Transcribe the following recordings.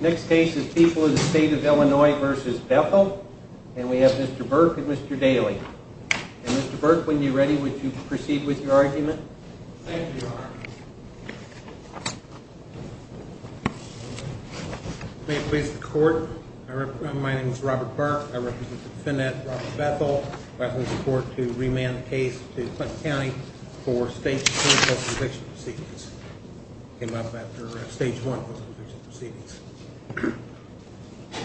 Next case is People of the State of Illinois v. Bethel. And we have Mr. Burke and Mr. Daly. Mr. Burke, when you're ready, would you proceed with your argument? Thank you, Your Honor. May it please the Court, my name is Robert Burke. I represent the defendant, Robert Bethel, requesting the Court to remand the case to Clinton County for Stage 2 post-conviction proceedings. It came up after Stage 1 post-conviction proceedings.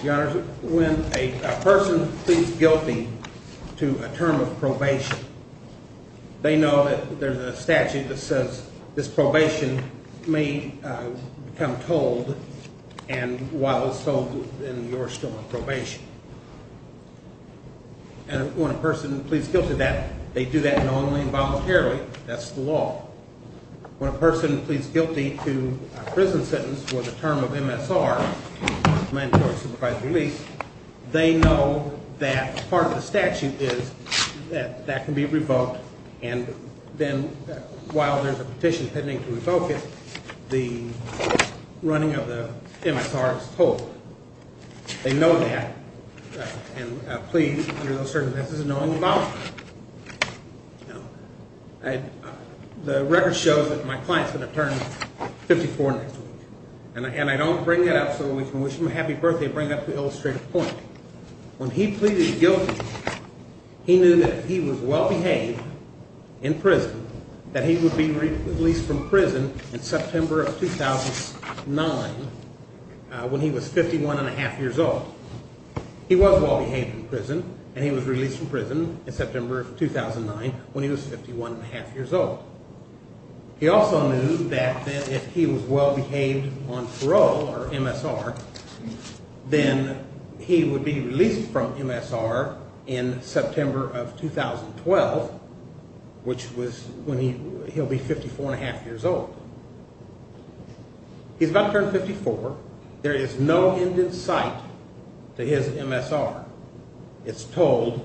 Your Honor, when a person pleads guilty to a term of probation, they know that there's a statute that says this probation may become tolled, and while it's tolled, then you're still on probation. And when a person pleads guilty to that, they do that knowingly and voluntarily, that's the law. When a person pleads guilty to a prison sentence for the term of MSR, mandatory supervised release, they know that part of the statute is that that can be revoked, and then while there's a petition pending to revoke it, the running of the MSR is tolled. They know that, and plead under those circumstances knowingly and voluntarily. The record shows that my client's going to turn 54 next week, and I don't bring that up so we can wish him a happy birthday, I bring it up to illustrate a point. When he pleaded guilty, he knew that if he was well-behaved in prison, that he would be released from prison in September of 2009 when he was 51 1⁄2 years old. He was well-behaved in prison, and he was released from prison in September of 2009 when he was 51 1⁄2 years old. He also knew that if he was well-behaved on parole or MSR, then he would be released from MSR in September of 2012, which was when he'll be 54 1⁄2 years old. He's about to turn 54. There is no end in sight to his MSR. It's tolled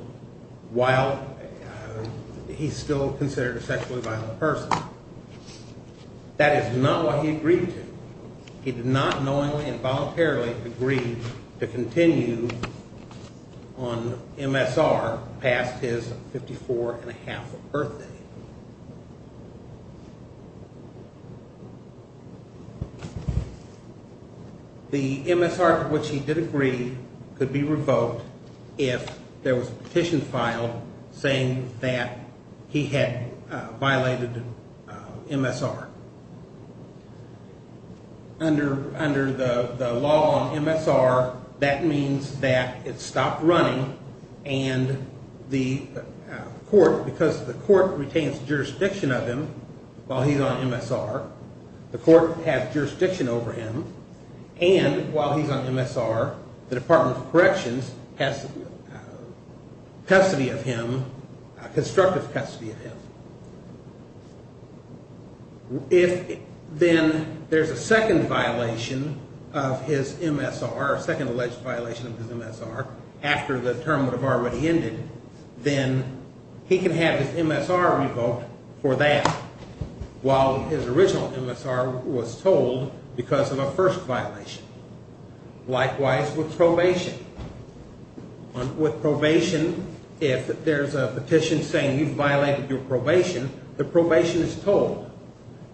while he's still considered a sexually violent person. That is not what he agreed to. He did not knowingly and voluntarily agree to continue on MSR past his 54 1⁄2 birthday. The MSR to which he did agree could be revoked if there was a petition filed saying that he had violated MSR. Under the law on MSR, that means that it stopped running, and the court, because the court retains jurisdiction of him while he's on MSR, the court has jurisdiction over him, and while he's on MSR, the Department of Corrections has custody of him, constructive custody of him. If then there's a second violation of his MSR, second alleged violation of his MSR, after the term would have already ended, then he can have his MSR revoked for that, while his original MSR was tolled because of a first violation. Likewise with probation. With probation, if there's a petition saying you've violated your probation, the probation is tolled,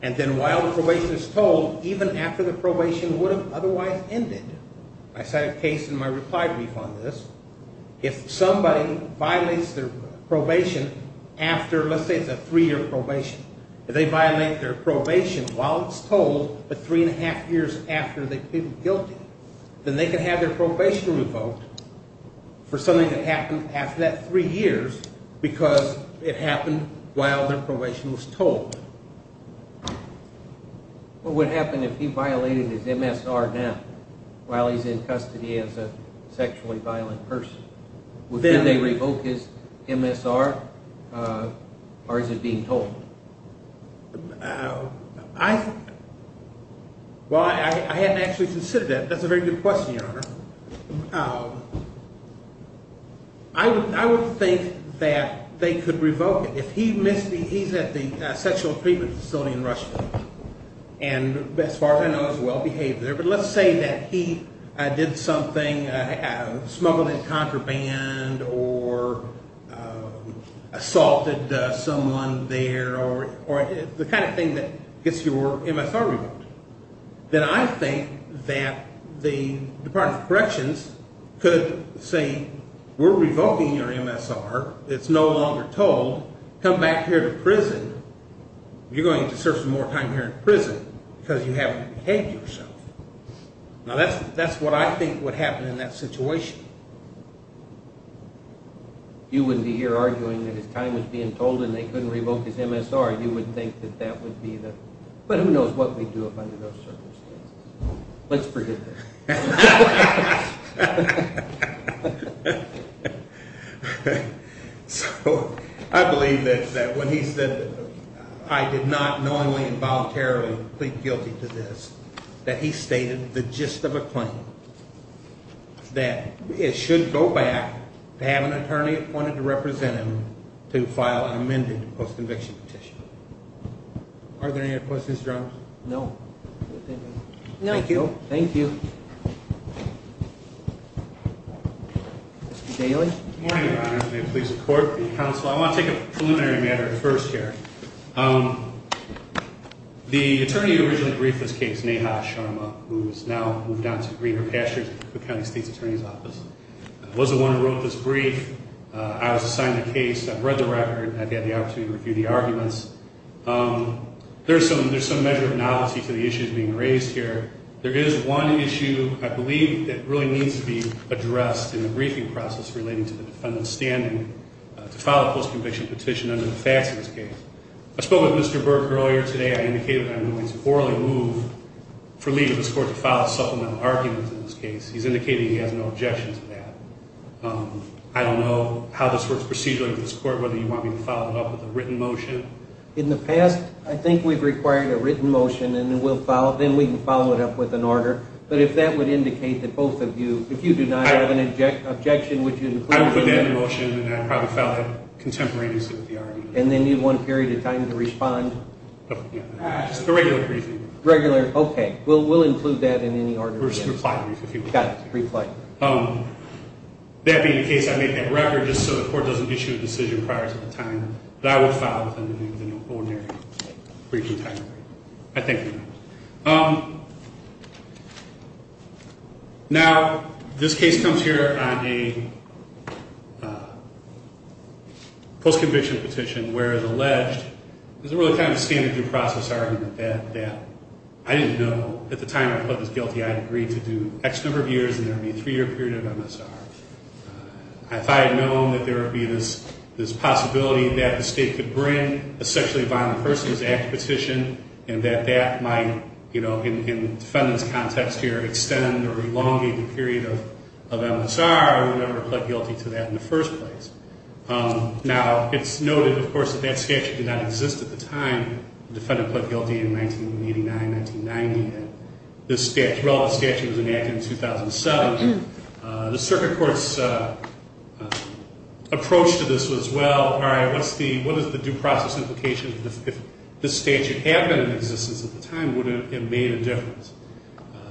and then while the probation is tolled, even after the probation would have otherwise ended, I cited a case in my reply brief on this, if somebody violates their probation after, let's say it's a three-year probation, if they violate their probation while it's tolled, but 3 1⁄2 years after they plead guilty, then they can have their probation revoked for something that happened after that three years because it happened while their probation was tolled. What would happen if he violated his MSR now, while he's in custody as a sexually violent person? Would then they revoke his MSR, or is it being tolled? Well, I hadn't actually considered that. That's a very good question, Your Honor. I would think that they could revoke it. If he's at the sexual treatment facility in Russia, and as far as I know is well-behaved there, but let's say that he did something, smuggled in contraband, or assaulted someone there, or the kind of thing that gets your MSR revoked, then I think that the Department of Corrections could say, we're revoking your MSR, it's no longer tolled, come back here to prison. You're going to serve some more time here in prison because you haven't behaved yourself. Now that's what I think would happen in that situation. You wouldn't be here arguing that his time was being tolled and they couldn't revoke his MSR. You would think that that would be the, but who knows what we'd do under those circumstances. Let's forget that. So I believe that when he said, I did not knowingly and voluntarily plead guilty to this, that he stated the gist of a claim, that it should go back to have an attorney appointed to represent him to file an amended post-conviction petition. Are there any other questions, Your Honor? No. Thank you. Thank you. Mr. Daly. Good morning, Your Honor. May it please the Court, the Counsel. I want to take a preliminary matter first here. The attorney who originally briefed this case, Neha Sharma, who has now moved on to Greener Pastures with the County State's Attorney's Office, was the one who wrote this brief. I was assigned the case. I've read the record. I've had the opportunity to review the arguments. There's some measure of novelty to the issues being raised here. There is one issue I believe that really needs to be addressed in the briefing process relating to the defendant's standing to file a post-conviction petition under the facts of this case. I spoke with Mr. Burke earlier today. I indicated that I'm willing to orally move for leave of this Court to file a supplemental argument in this case. He's indicated he has no objection to that. I don't know how this works procedurally with this Court, whether you want me to follow it up with a written motion. In the past, I think we've required a written motion, and then we can follow it up with an order. But if that would indicate that both of you, if you do not have an objection, would you include it in the motion? I would put that in the motion, and I'd probably file it contemporaneously with the argument. And then you'd want a period of time to respond? Just a regular briefing. Regular? Okay. We'll include that in any order. We'll just reply to the briefing. Got it. Reflect. That being the case, I made that record just so the Court doesn't issue a decision prior to the time that I would file within an ordinary briefing time frame. I thank you. Now, this case comes here on a post-conviction petition where it's alleged, there's a really kind of standard due process argument that I didn't know. At the time I pled this guilty, I agreed to do X number of years, and there would be a three-year period of MSR. I thought I had known that there would be this possibility that the State could bring a sexually violent persons act petition, and that that might, you know, in the defendant's context here, extend or elongate the period of MSR. I would never have pled guilty to that in the first place. Now, it's noted, of course, that that statute did not exist at the time the defendant pled guilty in 1989, 1990. This relevant statute was enacted in 2007. The circuit court's approach to this was, well, all right, what is the due process implication if this statute had been in existence at the time? Would it have made a difference?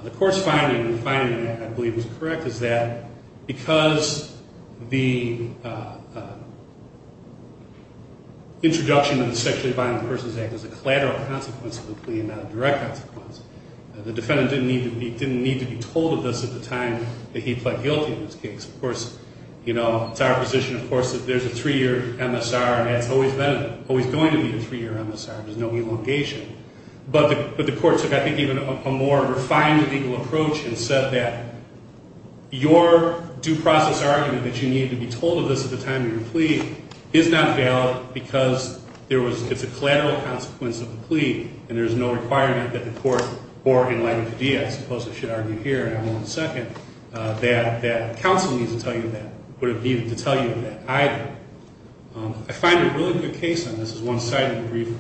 The court's finding, and the finding of that I believe was correct, is that because the introduction of the sexually violent persons act was a collateral consequence of the plea and not a direct consequence, the defendant didn't need to be told of this at the time that he pled guilty in this case. Of course, you know, it's our position, of course, that there's a three-year MSR, and it's always going to be a three-year MSR. There's no elongation. But the court took, I think, even a more refined legal approach and said that your due process argument that you need to be told of this at the time of your plea is not valid because it's a collateral consequence of the plea, and there's no requirement that the court, or in light of the deed, I suppose I should argue here, and I won't second, that counsel needs to tell you of that. Would it be to tell you of that either? I find a really good case on this. There's one side of the brief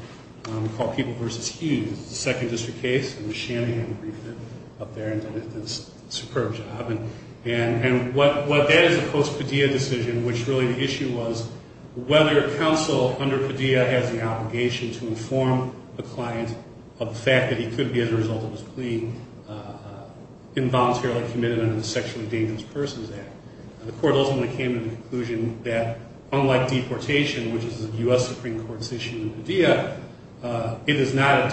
called People v. Hughes. It's a second district case, and Ms. Shanahan briefed it up there and did a superb job. And what that is, of course, a Padilla decision, which really the issue was whether counsel under Padilla has the obligation to inform the client of the fact that he could be, as a result of his plea, involuntarily committed under the Sexually Endangered Persons Act. The court ultimately came to the conclusion that, unlike deportation, which is a U.S. Supreme Court decision under Padilla, it is not a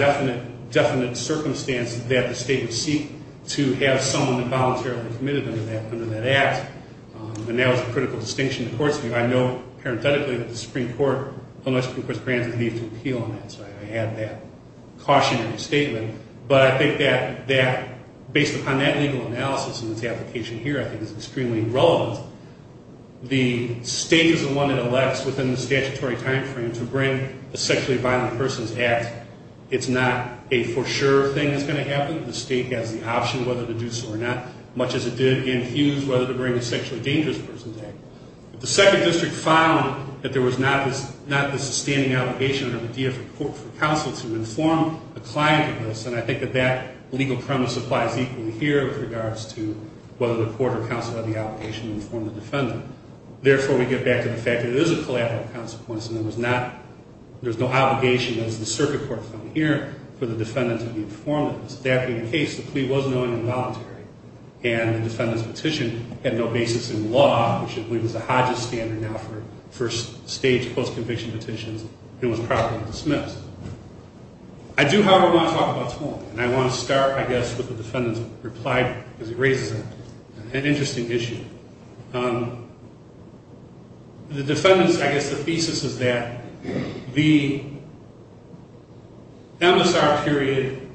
definite circumstance that the state would seek to have someone involuntarily committed under that act, and that was a critical distinction to court's view. I know, parenthetically, that the Supreme Court, although the Supreme Court's granted leave to appeal on that, so I had that cautionary statement. But I think that, based upon that legal analysis and its application here, I think it's extremely relevant. The state is the one that elects, within the statutory timeframe, to bring the Sexually Violent Persons Act. It's not a for-sure thing that's going to happen. The state has the option whether to do so or not, much as it did in Hughes, whether to bring the Sexually Dangerous Persons Act. If the Second District found that there was not the sustaining obligation under Padilla for counsel to inform a client of this, and I think that that legal premise applies equally here with regards to whether the court or counsel had the obligation to inform the defendant. Therefore, we get back to the fact that it is a collateral consequence, and there's no obligation, as the circuit court found here, for the defendant to be informed of this. That being the case, the plea was known and voluntary, and the defendant's petition had no basis in law, which I believe is the Hodges standard now for first-stage, post-conviction petitions, and was probably dismissed. I do, however, want to talk about Torm. And I want to start, I guess, with the defendant's reply, because it raises an interesting issue. The defendant's, I guess, the thesis is that the MSR period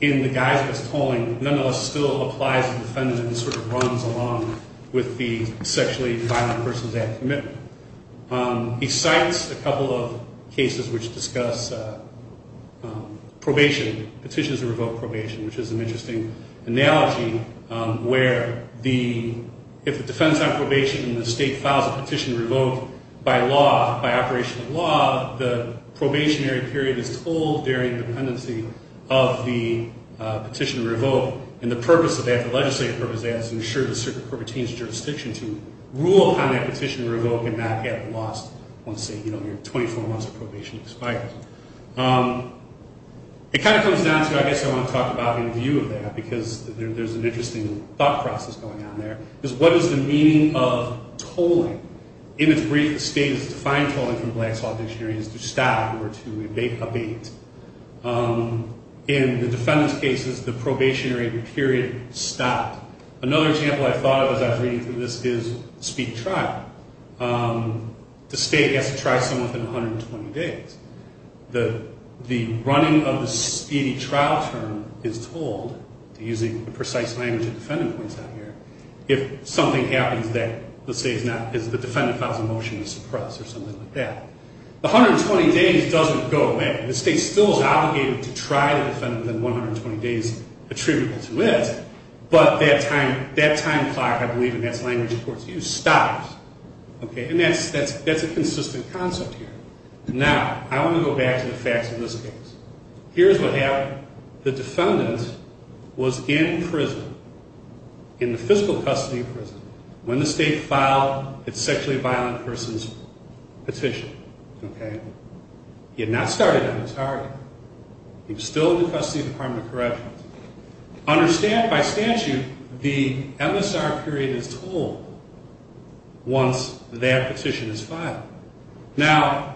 in the guise of its tolling nonetheless still applies to the defendant and sort of runs along with the Sexually Violent Persons Act commitment. He cites a couple of cases which discuss probation, petitions to revoke probation, which is an interesting analogy where the, if the defendant's on probation and the state files a petition to revoke by law, by operation of law, the probationary period is tolled during the pendency of the petition to revoke. And the purpose of that, the legislative purpose of that is to ensure the circuit court retains jurisdiction to rule upon that petition to revoke and not get lost once, say, you know, your 24 months of probation expires. It kind of comes down to, I guess, I want to talk about in view of that, because there's an interesting thought process going on there, is what is the meaning of tolling? In its brief, the state has defined tolling from Black Saw Dictionary as to stop or to abate. In the defendant's cases, the probationary period stopped. Another example I thought of as I was reading through this is the speak-try. The state has to try someone within 120 days. The running of the speedy trial term is tolled, using the precise language the defendant points out here, if something happens that, let's say, is not, is the defendant files a motion to suppress or something like that. The 120 days doesn't go away. The state still is obligated to try the defendant within 120 days attributable to it, but that time clock, I believe, and that's language the courts use, stops. Okay, and that's a consistent concept here. Now, I want to go back to the facts of this case. Here's what happened. The defendant was in prison, in the physical custody of prison, when the state filed its sexually violent persons petition. Okay? He had not started on his target. He was still in the custody of the Department of Corrections. By statute, the MSR period is tolled once that petition is filed. Now,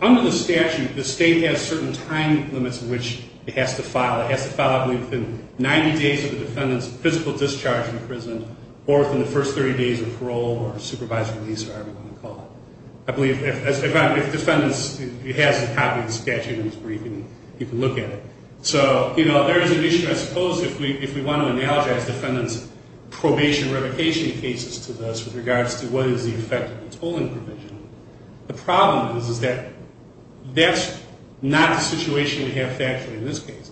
under the statute, the state has certain time limits in which it has to file. It has to file, I believe, within 90 days of the defendant's physical discharge from prison or within the first 30 days of parole or supervised release or however you want to call it. I believe, as a matter of fact, if the defendant has a copy of the statute in his briefing, he can look at it. So, you know, there is an issue, I suppose, if we want to analogize defendant's probation revocation cases to this with regards to what is the effect of the tolling provision. The problem is that that's not the situation we have factually in this case.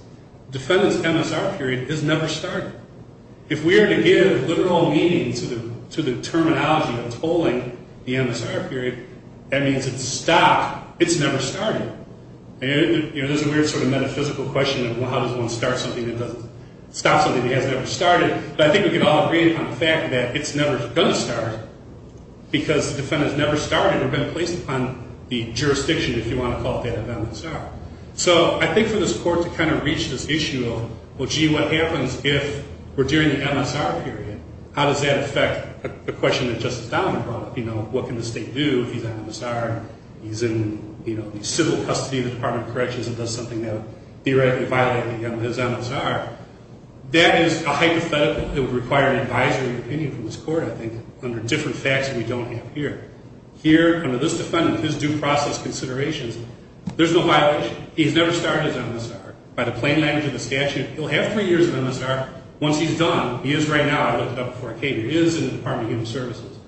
Defendant's MSR period is never started. If we are to give literal meaning to the terminology of tolling the MSR period, that means it's stopped. It's never started. You know, there's a weird sort of metaphysical question of how does one start something that doesn't stop something that has never started. But I think we can all agree on the fact that it's never going to start because the defendant has never started or been placed upon the jurisdiction, if you want to call it that, of MSR. So I think for this Court to kind of reach this issue of, well, gee, what happens if we're during the MSR period? How does that affect the question that Justice Donovan brought up? You know, what can the state do if he's on MSR? He's in, you know, civil custody of the Department of Corrections and does something that would theoretically violate his MSR. That is a hypothetical that would require an advisory opinion from this Court, I think, under different facts that we don't have here. Here, under this defendant, his due process considerations, there's no violation. He has never started his MSR. By the plain language of the statute, he'll have three years of MSR. Once he's done, he is right now, I looked it up before I came, he is in the Department of Human Services.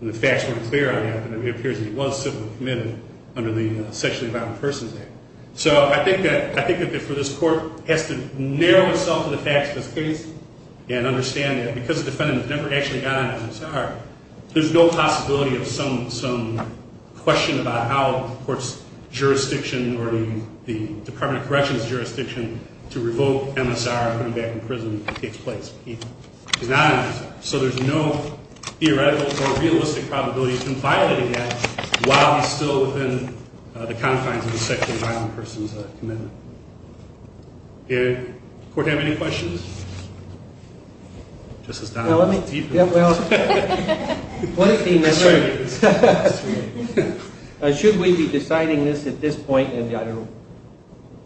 And the facts weren't clear on that, but it appears that he was civilly committed under the Sexually Violent Persons Act. So I think that for this Court, it has to narrow itself to the facts of this case and understand that because the defendant never actually got on MSR, there's no possibility of some question about how the Court's jurisdiction or the Department of Corrections' jurisdiction to revoke MSR and put him back in prison if it takes place. He's not on MSR. So there's no theoretical or realistic probability of him violating that while he's still within the confines of the Sexually Violent Persons Commitment. Does the Court have any questions? Justice Donovan, do you have any questions? Should we be deciding this at this point, and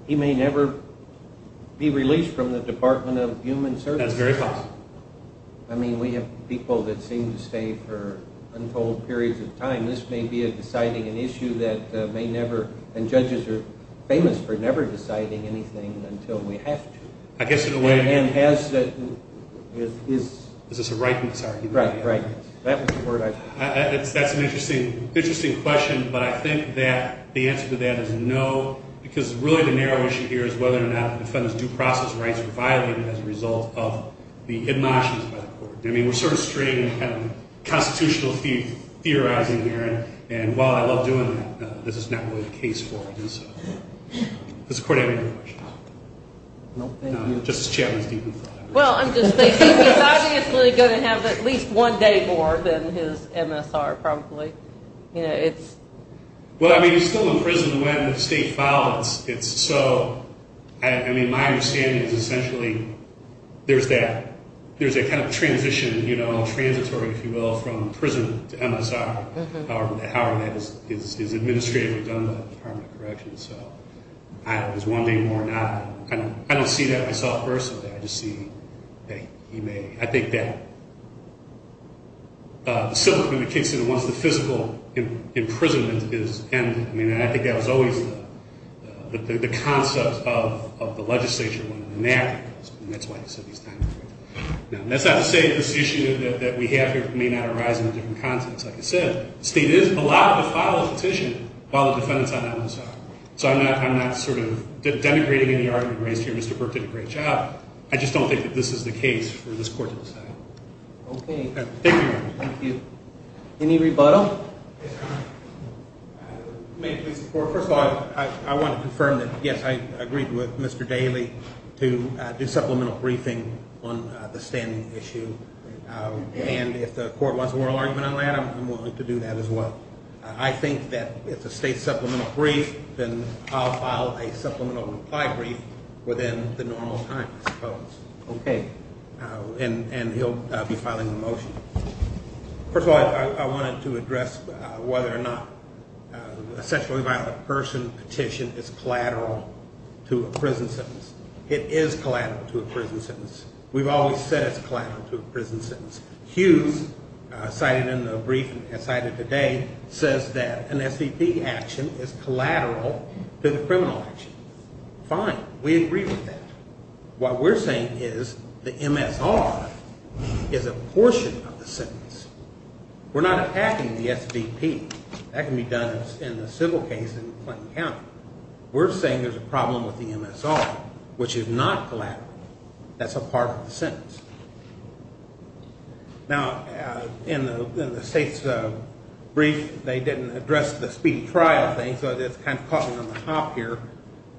he may never be released from the Department of Human Services? That's very possible. I mean, we have people that seem to stay for untold periods of time. This may be deciding an issue that may never – and judges are famous for never deciding anything until we have to. I guess in a way – And has – Is this a right? Sorry. Right, right. That's an interesting question, but I think that the answer to that is no, because really the narrow issue here is whether or not the defendant's due process rights were violated as a result of the hidden options by the Court. I mean, we're sort of straight in kind of constitutional theorizing here, and while I love doing that, this is not really the case for him. Does the Court have any questions? No. Justice Chapman's deep in thought. Well, I'm just thinking he's obviously going to have at least one day more than his MSR probably. You know, it's – Well, I mean, he's still in prison when the state filed it. So, I mean, my understanding is essentially there's that – there's a kind of transition, you know, transitory, if you will, from prison to MSR, however that is administratively done by the Department of Corrections. So, I don't know. Is one day more or not? I don't see that myself personally. I just see that he may – I think that the symptom in the case is once the physical imprisonment is ended. I mean, I think that was always the concept of the legislature when they enacted it, and that's why he said he's not in prison. Now, that's not to say that this issue that we have here may not arise in a different context. Like I said, the state is allowed to file a petition while the defendant's on MSR. So, I'm not sort of denigrating any argument raised here. Mr. Burke did a great job. I just don't think that this is the case for this Court to decide. Okay. Thank you, Your Honor. Thank you. Any rebuttal? Yes, Your Honor. May it please the Court. First of all, I want to confirm that, yes, I agreed with Mr. Daley to do supplemental briefing on the standing issue. And if the Court wants a moral argument on that, I'm willing to do that as well. I think that if the state's supplemental brief, then I'll file a supplemental reply brief within the normal time, I suppose. Okay. And he'll be filing the motion. First of all, I wanted to address whether or not a sexually violent person petition is collateral to a prison sentence. It is collateral to a prison sentence. We've always said it's collateral to a prison sentence. Hughes, cited in the brief and cited today, says that an SVP action is collateral to the criminal action. Fine. We agree with that. What we're saying is the MSR is a portion of the sentence. We're not attacking the SVP. That can be done in the civil case in Clinton County. We're saying there's a problem with the MSR, which is not collateral. That's a part of the sentence. Now, in the state's brief, they didn't address the speedy trial thing, so it's kind of caught in the hop here.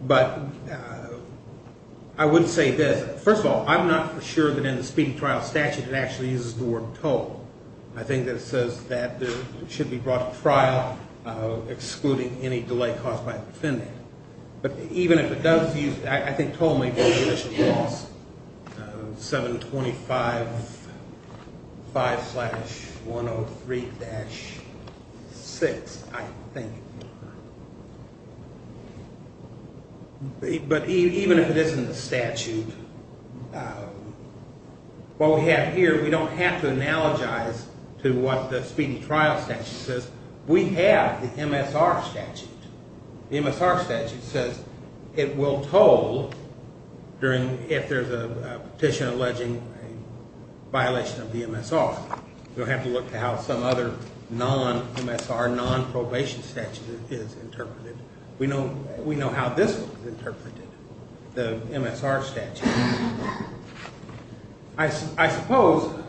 But I would say this. First of all, I'm not for sure that in the speedy trial statute it actually uses the word toll. I think that it says that it should be brought to trial excluding any delay caused by the defendant. But even if it does use it, I think toll may be the initial clause, 725-5-103-6, I think. But even if it isn't the statute, what we have here, we don't have to analogize to what the speedy trial statute says. We have the MSR statute. The MSR statute says it will toll if there's a petition alleging a violation of the MSR. You'll have to look to how some other non-MSR, non-probation statute is interpreted. We know how this is interpreted, the MSR statute. I suppose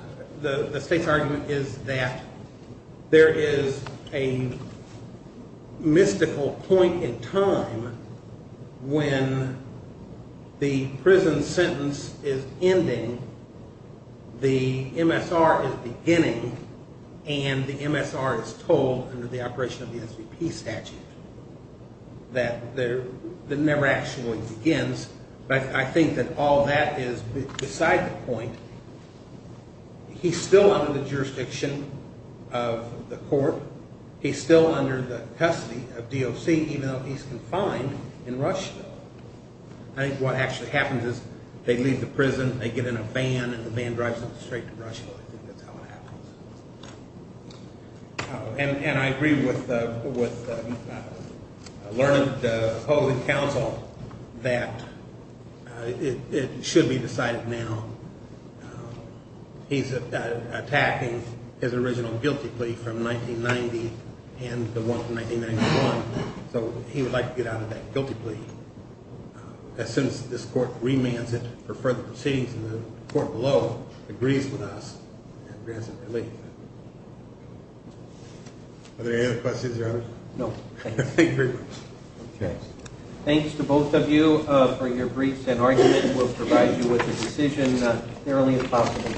the state's argument is that there is a mystical point in time when the prison sentence is ending, the MSR is beginning, and the MSR is tolled under the operation of the SVP statute. That never actually begins. But I think that all that is beside the point. He's still under the jurisdiction of the court. He's still under the custody of DOC even though he's confined in Rushville. I think what actually happens is they leave the prison, they get in a van, and the van drives them straight to Rushville. I think that's how it happens. And I agree with Lerner, the opposing counsel, that it should be decided now. He's attacking his original guilty plea from 1990 and the one from 1991. So he would like to get out of that guilty plea as soon as this court remands it for further proceedings and the court below agrees with us and grants it relief. Are there any other questions, Your Honor? No. Thank you very much. Thanks to both of you for your briefs and argument. We'll provide you with a decision as early as possible.